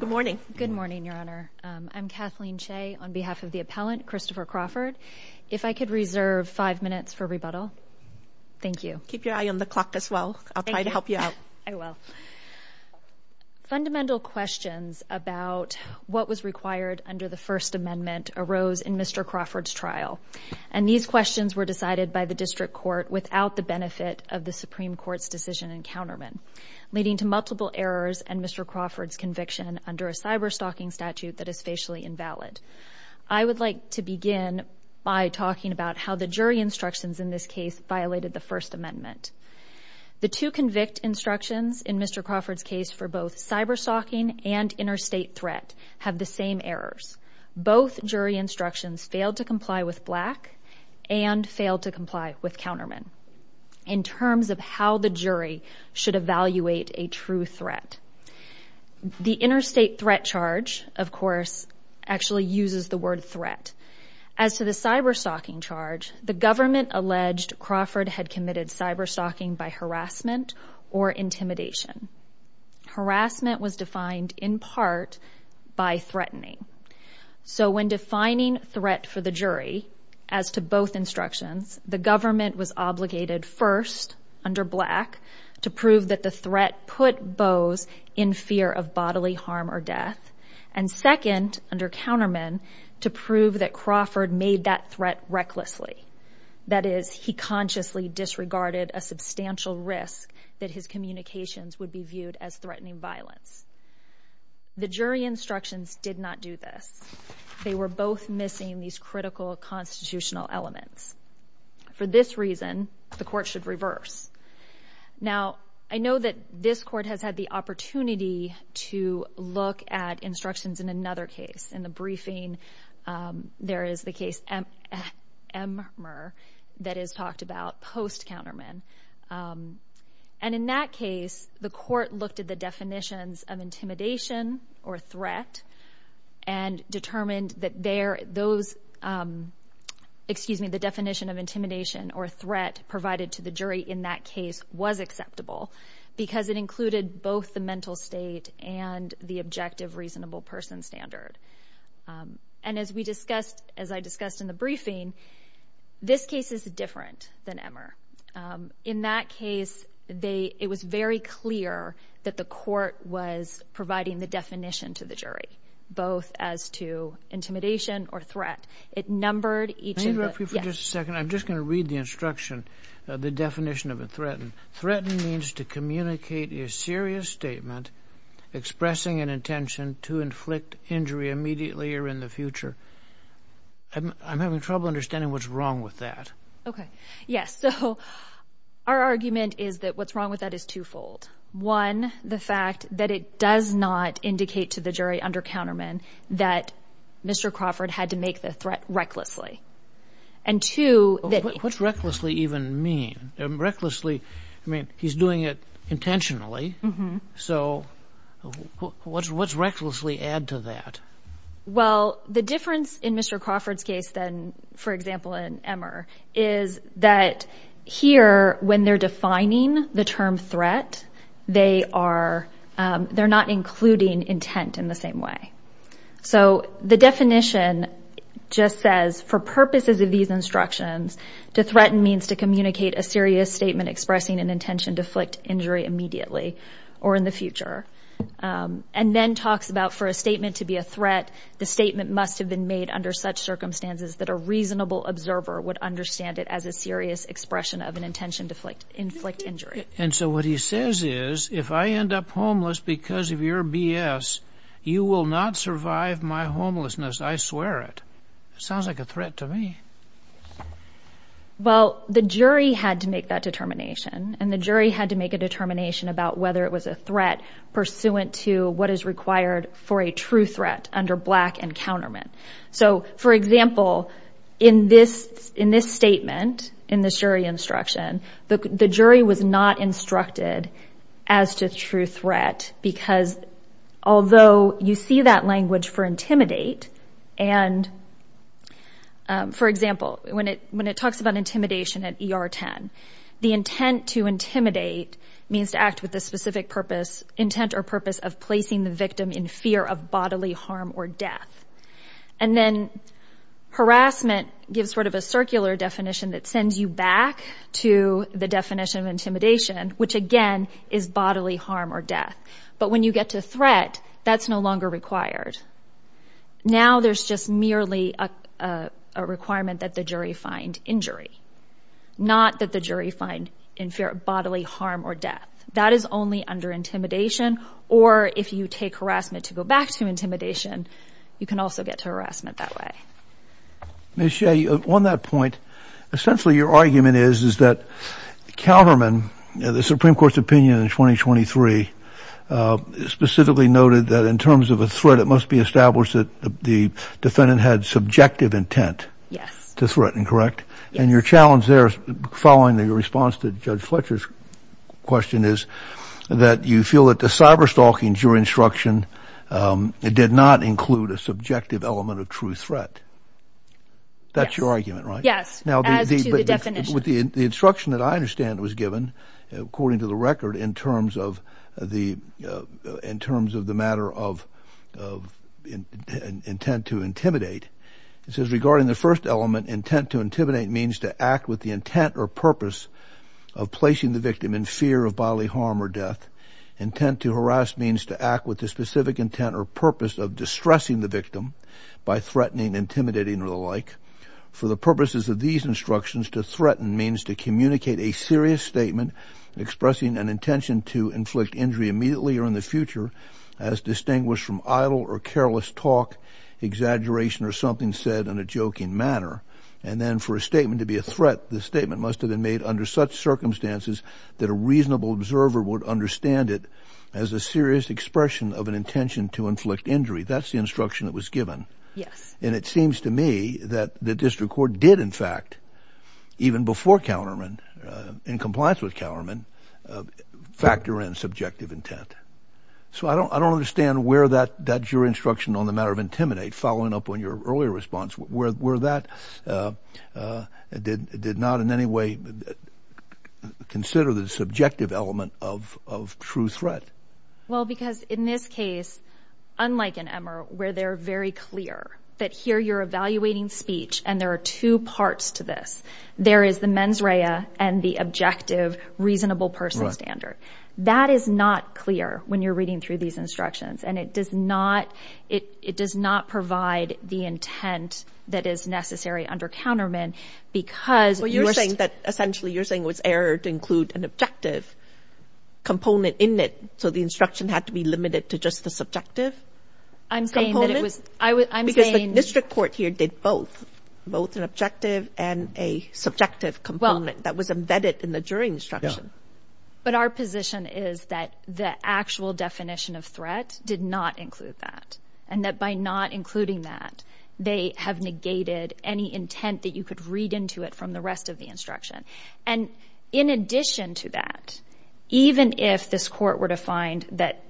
Good morning. Good morning, Your Honor. I'm Kathleen Shea on behalf of the appellant, Christopher Crawford. If I could reserve five minutes for rebuttal. Thank you. Keep your eye on the clock as well. I'll try to help you out. I will. Fundamental questions about what was required under the First Amendment arose in Mr. Crawford's trial, and these questions were decided by the district court without the benefit of the Supreme Court's decision in Counterman, leading to multiple errors and Mr. Crawford's conviction under a cyber-stalking statute that is facially invalid. I would like to begin by talking about how the jury instructions in this case violated the First Amendment. The two convict instructions in Mr. Crawford's case for both cyber-stalking and interstate threat have the same errors. Both jury instructions failed to comply with Black and failed to comply with Counterman. in terms of how the jury should evaluate a true threat. The interstate threat charge, of course, actually uses the word threat. As to the cyber-stalking charge, the government alleged Crawford had committed cyber-stalking by harassment or intimidation. Harassment was defined in part by threatening. So when defining threat for the jury, as to both instructions, the government was obligated first, under Black, to prove that the threat put Bose in fear of bodily harm or death, and second, under Counterman, to prove that Crawford made that threat recklessly. That is, he consciously disregarded a substantial risk that his communications would be viewed as threatening violence. The jury instructions did not do this. They were both missing these critical constitutional elements. For this reason, the court should reverse. Now, I know that this court has had the opportunity to look at instructions in another case. In the briefing, there is the case Emmer that is talked about post-Counterman. And in that case, the court looked at the definitions of intimidation or threat, and determined that the definition of intimidation or threat provided to the jury in that case was acceptable, because it included both the mental state and the objective reasonable person standard. And as I discussed in the briefing, this case is different than Emmer. In that case, it was very clear that the court was providing the definition to the jury, both as to intimidation or threat. It numbered each of the... Let me interrupt you for just a second. I'm just going to read the instruction, the definition of a threaten. Threaten means to communicate a serious statement expressing an intention to inflict injury immediately or in the future. I'm having trouble understanding what's wrong with that. Okay. Yes. So our argument is that what's wrong with that is twofold. One, the fact that it does not indicate to the jury under Counterman that Mr. Crawford had to make the threat recklessly. And two... What's recklessly even mean? Recklessly, I mean, he's doing it intentionally. So what's recklessly add to that? Well, the difference in Mr. Crawford's case than, for example, in Emmer, is that here, when they're defining the term threat, they're not including intent in the same way. So the definition just says, for purposes of these instructions, to threaten means to communicate a serious statement expressing an intention to inflict injury immediately or in the future. And then talks about for a statement to be a threat, the statement must have been made under such circumstances that a reasonable observer would understand it as a serious expression of an intention to inflict injury. And so what he says is, if I end up homeless because of your BS, you will not survive my homelessness, I swear it. Sounds like a threat to me. Well, the jury had to make that determination, and the jury had to make a determination about whether it was a threat pursuant to what is required for a true threat under black encounterment. So, for example, in this statement, in this jury instruction, the jury was not instructed as to true threat because, although you see that language for intimidate, and, for example, when it talks about intimidation at ER 10, the intent to intimidate means to act with the specific purpose, intent or purpose of placing the victim in fear of bodily harm or death. And then harassment gives sort of a circular definition that sends you back to the definition of intimidation, which, again, is bodily harm or death. But when you get to threat, that's no longer required. Now there's just merely a requirement that the jury find injury, not that the jury find bodily harm or death. That is only under intimidation, or if you take harassment to go back to intimidation, you can also get to harassment that way. Ms. Shea, on that point, essentially your argument is that Calverman, the Supreme Court's opinion in 2023, specifically noted that in terms of a threat, it must be established that the defendant had subjective intent to threaten, correct? And your challenge there, following the response to Judge Fletcher's question, is that you feel that the cyberstalking jury instruction did not include a subjective element of true threat. That's your argument, right? Yes, as to the definition. The instruction that I understand was given, according to the record, in terms of the matter of intent to intimidate, it says regarding the first element, intent to intimidate means to act with the intent or purpose of placing the victim in fear of bodily harm or death. Intent to harass means to act with the specific intent or purpose of distressing the victim by threatening, intimidating, or the like. For the purposes of these instructions, to threaten means to communicate a serious statement expressing an intention to inflict injury immediately or in the future as distinguished from idle or careless talk, exaggeration, or something said in a joking manner. And then for a statement to be a threat, the statement must have been made under such circumstances that a reasonable observer would understand it as a serious expression of an intention to inflict injury. That's the instruction that was given. And it seems to me that the district court did, in fact, even before Counterman, in compliance with Counterman, factor in subjective intent. So I don't understand where that jury instruction on the matter of intimidate, following up on your earlier response, where that did not in any way consider the subjective element of true threat. Well, because in this case, unlike in Emmer, where they're very clear that here you're evaluating speech and there are two parts to this, there is the mens rea and the objective, reasonable person standard. That is not clear when you're reading through these instructions, and it does not provide the intent that is necessary under Counterman because... Well, you're saying that essentially you're saying it was error to include an objective component in it, so the instruction had to be limited to just the subjective component? I'm saying that it was... Because the district court here did both, both an objective and a subjective component that was embedded in the jury instruction. But our position is that the actual definition of threat did not include that, and that by not including that, they have negated any intent that you could read into it from the rest of the instruction. And in addition to that, even if this court were to find that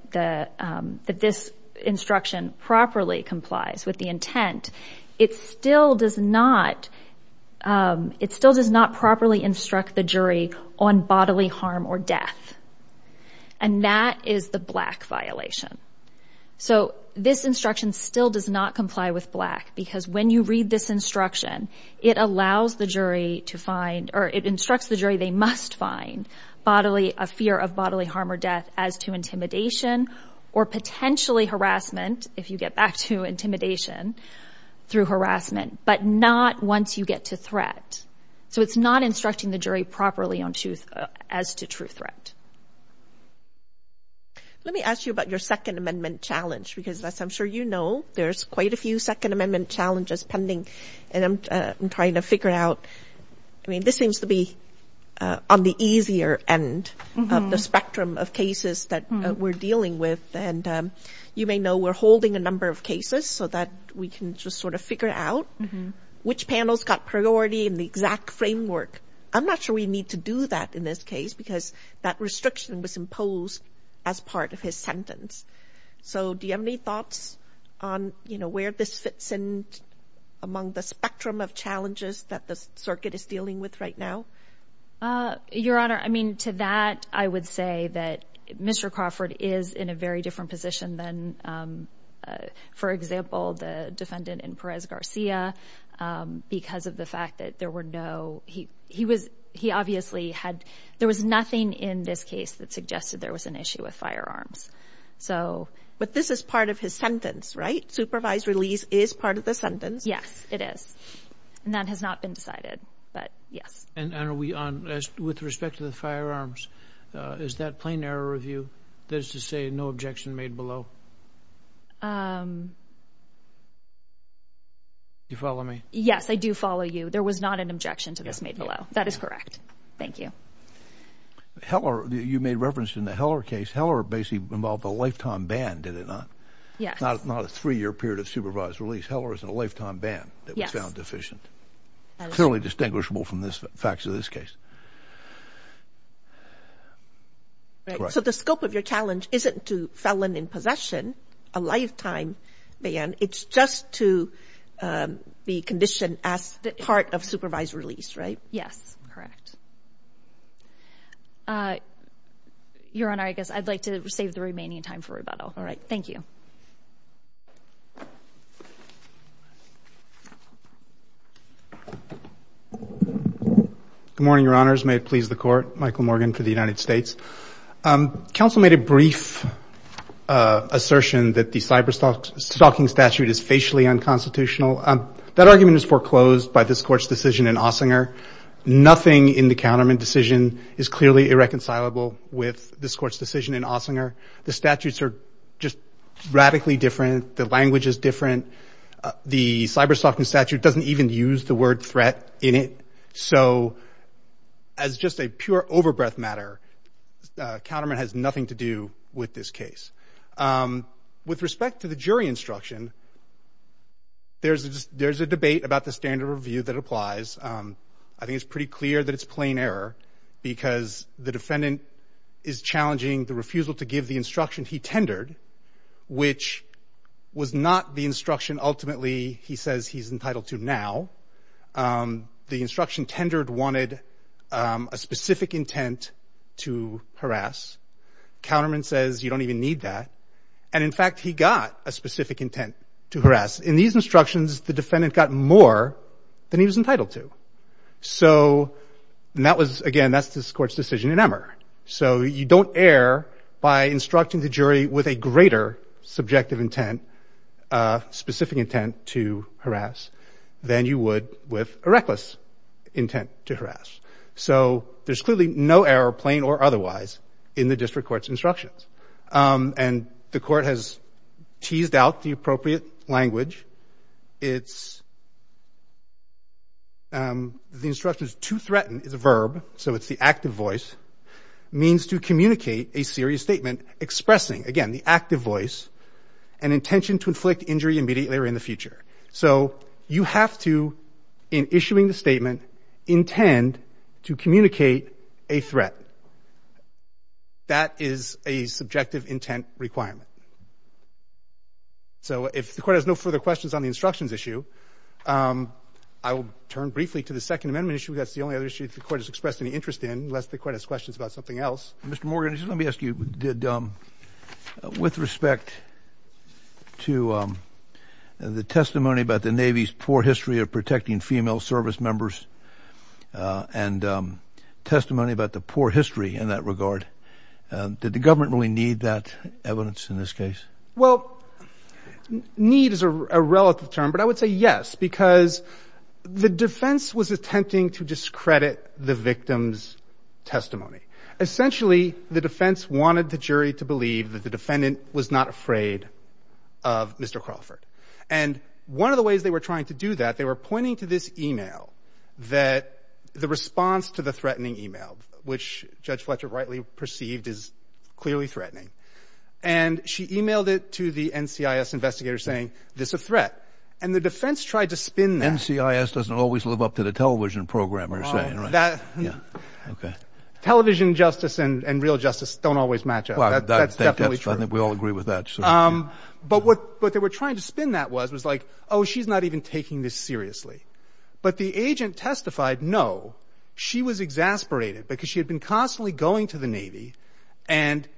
this instruction properly complies with the intent, it still does not... It still does not properly instruct the jury on bodily harm or death. And that is the Black violation. So this instruction still does not comply with Black because when you read this instruction, it allows the jury to find... Or it instructs the jury they must find bodily... A fear of bodily harm or death as to intimidation or potentially harassment, if you get back to intimidation, through harassment, but not once you get to threat. So it's not instructing the jury properly as to true threat. Let me ask you about your Second Amendment challenge because, as I'm sure you know, there's quite a few Second Amendment challenges pending, and I'm trying to figure out... I mean, this seems to be on the easier end of the spectrum of cases that we're dealing with. And you may know we're holding a number of cases so that we can just sort of figure out which panel's got priority in the exact framework. I'm not sure we need to do that in this case because that restriction was imposed as part of his sentence. So do you have any thoughts on, you know, where this fits in among the spectrum of challenges that the circuit is dealing with right now? Your Honor, I mean, to that, I would say that Mr. Crawford is in a very different position than, for example, the defendant in Perez-Garcia because of the fact that there were no... He obviously had... There was nothing in this case that suggested there was an issue with firearms. But this is part of his sentence, right? Supervised release is part of the sentence. Yes, it is. And that has not been decided, but yes. And are we on... With respect to the firearms, is that plain error review? That is to say, no objection made below? You follow me? Yes, I do follow you. There was not an objection to this made below. That is correct. Thank you. Heller... You made reference in the Heller case. Heller basically involved a lifetime ban, did it not? Yes. Not a three-year period of supervised release. Heller is in a lifetime ban that we found deficient. Yes. Clearly distinguishable from the facts of this case. Right. So the scope of your challenge isn't to felon in possession, a lifetime ban. It's just to be conditioned as part of supervised release, right? Correct. Your Honor, I guess I'd like to save the remaining time for rebuttal. All right. Thank you. Good morning, Your Honors. May it please the Court. Michael Morgan for the United States. Counsel made a brief assertion that the cyberstalking statute is facially unconstitutional. That argument is foreclosed by this Court's decision in Ossinger. Nothing in the counterman decision is clearly irreconcilable with this Court's decision in Ossinger. The statutes are just radically different. The language is different. The cyberstalking statute doesn't even use the word threat in it. So as just a pure overbreath matter, counterman has nothing to do with this case. With respect to the jury instruction, there's a debate about the standard of review that applies. I think it's pretty clear that it's plain error because the defendant is challenging the refusal to give the instruction he tendered, which was not the instruction ultimately he says he's entitled to now. The instruction tendered wanted a specific intent to harass. Counterman says you don't even need that. And in fact, he got a specific intent to harass. In these instructions, the defendant got more than he was entitled to. So that was, again, that's this Court's decision in Emmer. So you don't err by instructing the jury with a greater subjective intent, a specific intent to harass, than you would with a reckless intent to harass. So there's clearly no error, plain or otherwise, in the District Court's instructions. And the Court has teased out the appropriate language. It's, the instructions to threaten is a verb, so it's the active voice, means to communicate a serious statement expressing, again, the active voice, an intention to inflict injury immediately or in the future. So you have to, in issuing the statement, intend to communicate a threat. That is a subjective intent requirement. So if the Court has no further questions on the instructions issue, I will turn briefly to the Second Amendment issue. That's the only other issue the Court has expressed any interest in, unless the Court has questions about something else. Mr. Morgan, just let me ask you, did, with respect to the testimony about the Navy's poor history of protecting female service members and testimony about the poor history in that regard, did the government really need that evidence in this case? Well, need is a relative term, but I would say yes, because the defense was attempting to discredit the victim's testimony. Essentially, the defense wanted the jury to believe that the defendant was not afraid of Mr. Crawford. And one of the ways they were trying to do that, they were pointing to this e-mail, that the response to the threatening e-mail, which Judge Fletcher rightly perceived as clearly threatening, and she e-mailed it to the NCIS investigator saying, this is a threat. And the defense tried to spin that. NCIS doesn't always live up to the television programmers' saying, right? Yeah. Television justice and real justice don't always match up. That's definitely true. I think we all agree with that. But what they were trying to spin that was, was like, oh, she's not even taking this seriously. But the agent testified, no, she was exasperated because she had been constantly going to the Navy and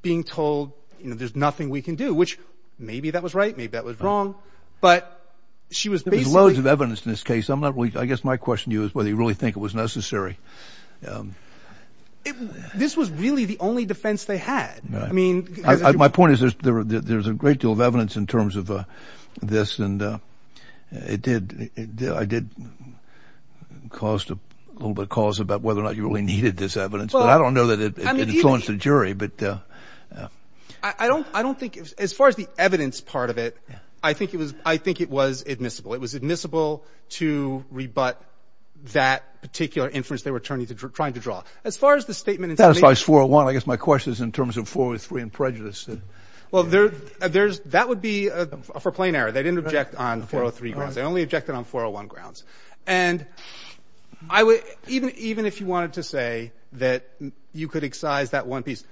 being told, you know, there's nothing we can do, which maybe that was right, maybe that was wrong, but she was basically... There's loads of evidence in this case. I'm not really... I guess my question to you is whether you really think it was necessary. This was really the only defense they had. I mean... My point is there's a great deal of evidence in terms of this, and it did... I did caused a little bit of cause about whether or not you really needed this evidence, but I don't know that it's on to the jury, but... I don't think... As far as the evidence part of it, I think it was admissible. It was admissible to rebut that particular inference they were trying to draw. As far as the statement... That's why it's 401. I guess my question is in terms of 403 and prejudice. Well, there's... That would be for plain error. They didn't object on 403 grounds. They only objected on 401 grounds. And I would... Even if you wanted to say that you could excise that one piece,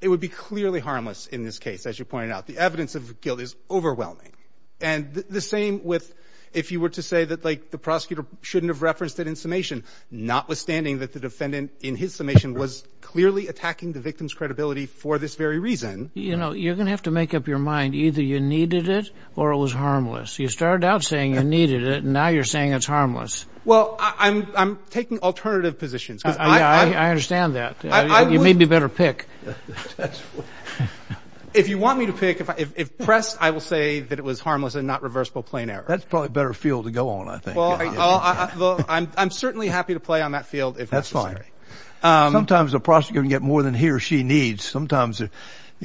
it would be clearly harmless in this case, as you pointed out. The evidence of guilt is overwhelming. And the same with if you were to say that, like, the prosecutor shouldn't have referenced it in summation, notwithstanding that the defendant, in his summation, was clearly attacking the victim's credibility for this very reason. You know, you're going to have to make up your mind. Either you needed it or it was harmless. You started out saying you needed it, and now you're saying it's harmless. Well, I'm taking alternative positions. I understand that. You may be better pick. If you want me to pick, if pressed, I will say that it was harmless and not reversible plain error. That's probably a better field to go on, I think. Well, I'm certainly happy to play on that field if necessary. That's fine. Sometimes a prosecutor can get more than he or she needs. Sometimes, you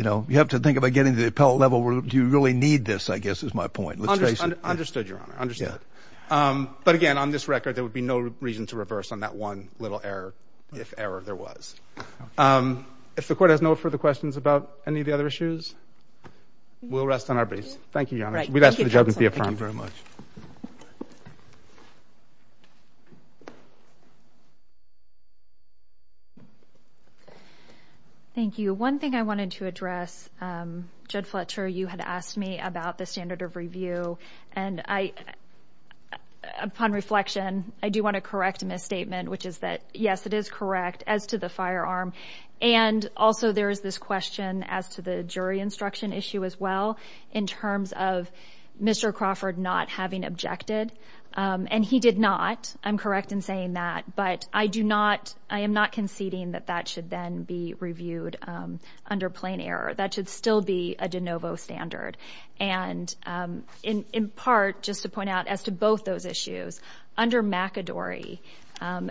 know, you have to think about getting to the appellate level where do you really need this, I guess, is my point. Let's face it. Understood, Your Honor. Understood. But, again, on this record, there would be no reason to reverse on that one little error, if error there was. If the Court has no further questions about any of the other issues, we'll rest on our base. Thank you, Your Honor. We'd ask for the judgment to be affirmed. Thank you. One thing I wanted to address, Judge Fletcher, you had asked me about the standard of review, and upon reflection, I do want to correct a misstatement, which is that, yes, it is correct as to the firearm, and also there is this question as to the jury instruction issue as well in terms of Mr. Crawford not having objected. And he did not. I'm correct in saying that. But I am not conceding that that should then be reviewed under plain error. That should still be a de novo standard. And, in part, just to point out, as to both those issues, under McAdory,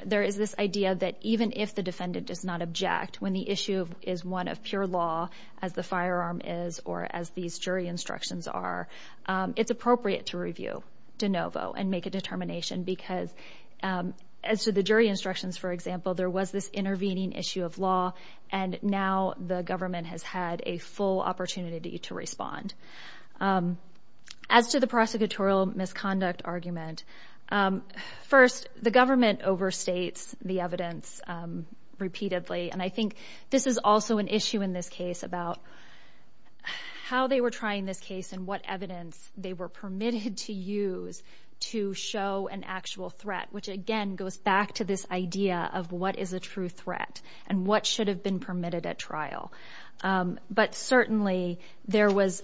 there is this idea that even if the defendant does not object, when the issue is one of pure law, as the firearm is or as these jury instructions are, it's appropriate to review de novo and make a determination because, as to the jury instructions, for example, there was this intervening issue of law, and now the government has had a full opportunity to respond. As to the prosecutorial misconduct argument, first, the government overstates the evidence repeatedly, and I think this is also an issue in this case about how they were trying this case and what evidence they were permitted to use to show an actual threat, which, again, goes back to this idea of what is a true threat and what should have been permitted at trial. But, certainly, there was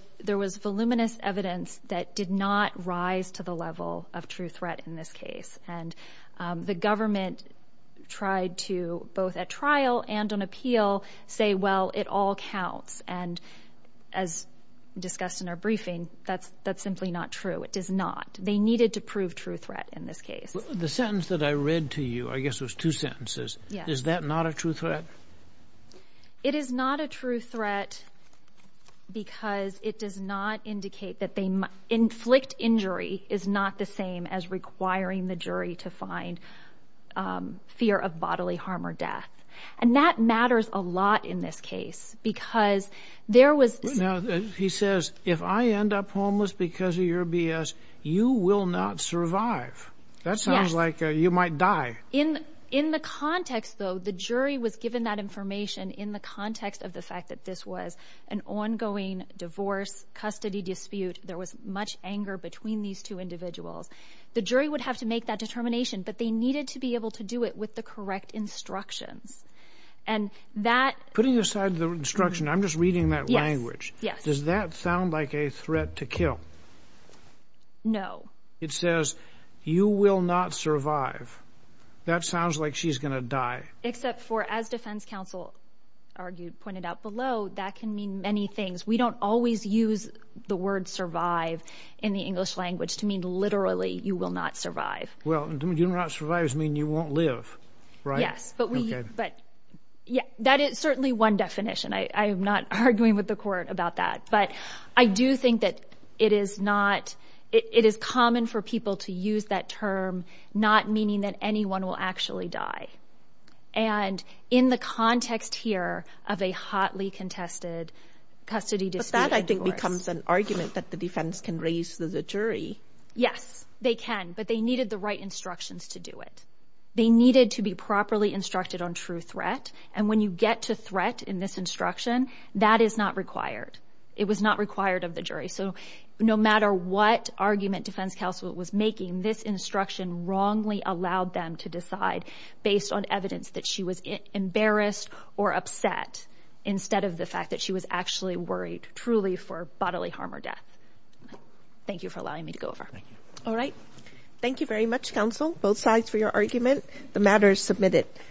voluminous evidence that did not rise to the level of true threat in this case. And the government tried to, both at trial and on appeal, say, well, it all counts. And, as discussed in our briefing, that's simply not true. It does not. They needed to prove true threat in this case. The sentence that I read to you, I guess it was two sentences. Yes. Is that not a true threat? It is not a true threat because it does not indicate that they inflict injury is not the same as requiring the jury to find fear of bodily harm or death. And that matters a lot in this case because there was... Now, he says, if I end up homeless because of your B.S., you will not survive. That sounds like you might die. In the context, though, the jury was given that information in the context of the fact that this was an ongoing divorce, custody dispute, there was much anger between these two individuals. The jury would have to make that determination, but they needed to be able to do it with the correct instructions. And that... I read the instruction. I'm just reading that language. Does that sound like a threat to kill? No. It says, you will not survive. That sounds like she's going to die. Except for, as defense counsel argued, pointed out below, that can mean many things. We don't always use the word survive in the English language to mean literally you will not survive. Well, you will not survive means you won't live, right? Yes. That is certainly one definition. I am not arguing with the court about that. But I do think that it is not... It is common for people to use that term, not meaning that anyone will actually die. And in the context here of a hotly contested custody dispute... But that, I think, becomes an argument that the defense can raise to the jury. Yes, they can, but they needed the right instructions to do it. They needed to be properly instructed on true threat. And when you get to threat in this instruction, that is not required. It was not required of the jury. So no matter what argument defense counsel was making, this instruction wrongly allowed them to decide based on evidence that she was embarrassed or upset instead of the fact that she was actually worried truly for bodily harm or death. Thank you for allowing me to go over. All right. Thank you very much, counsel. Both sides for your argument. The matter is submitted.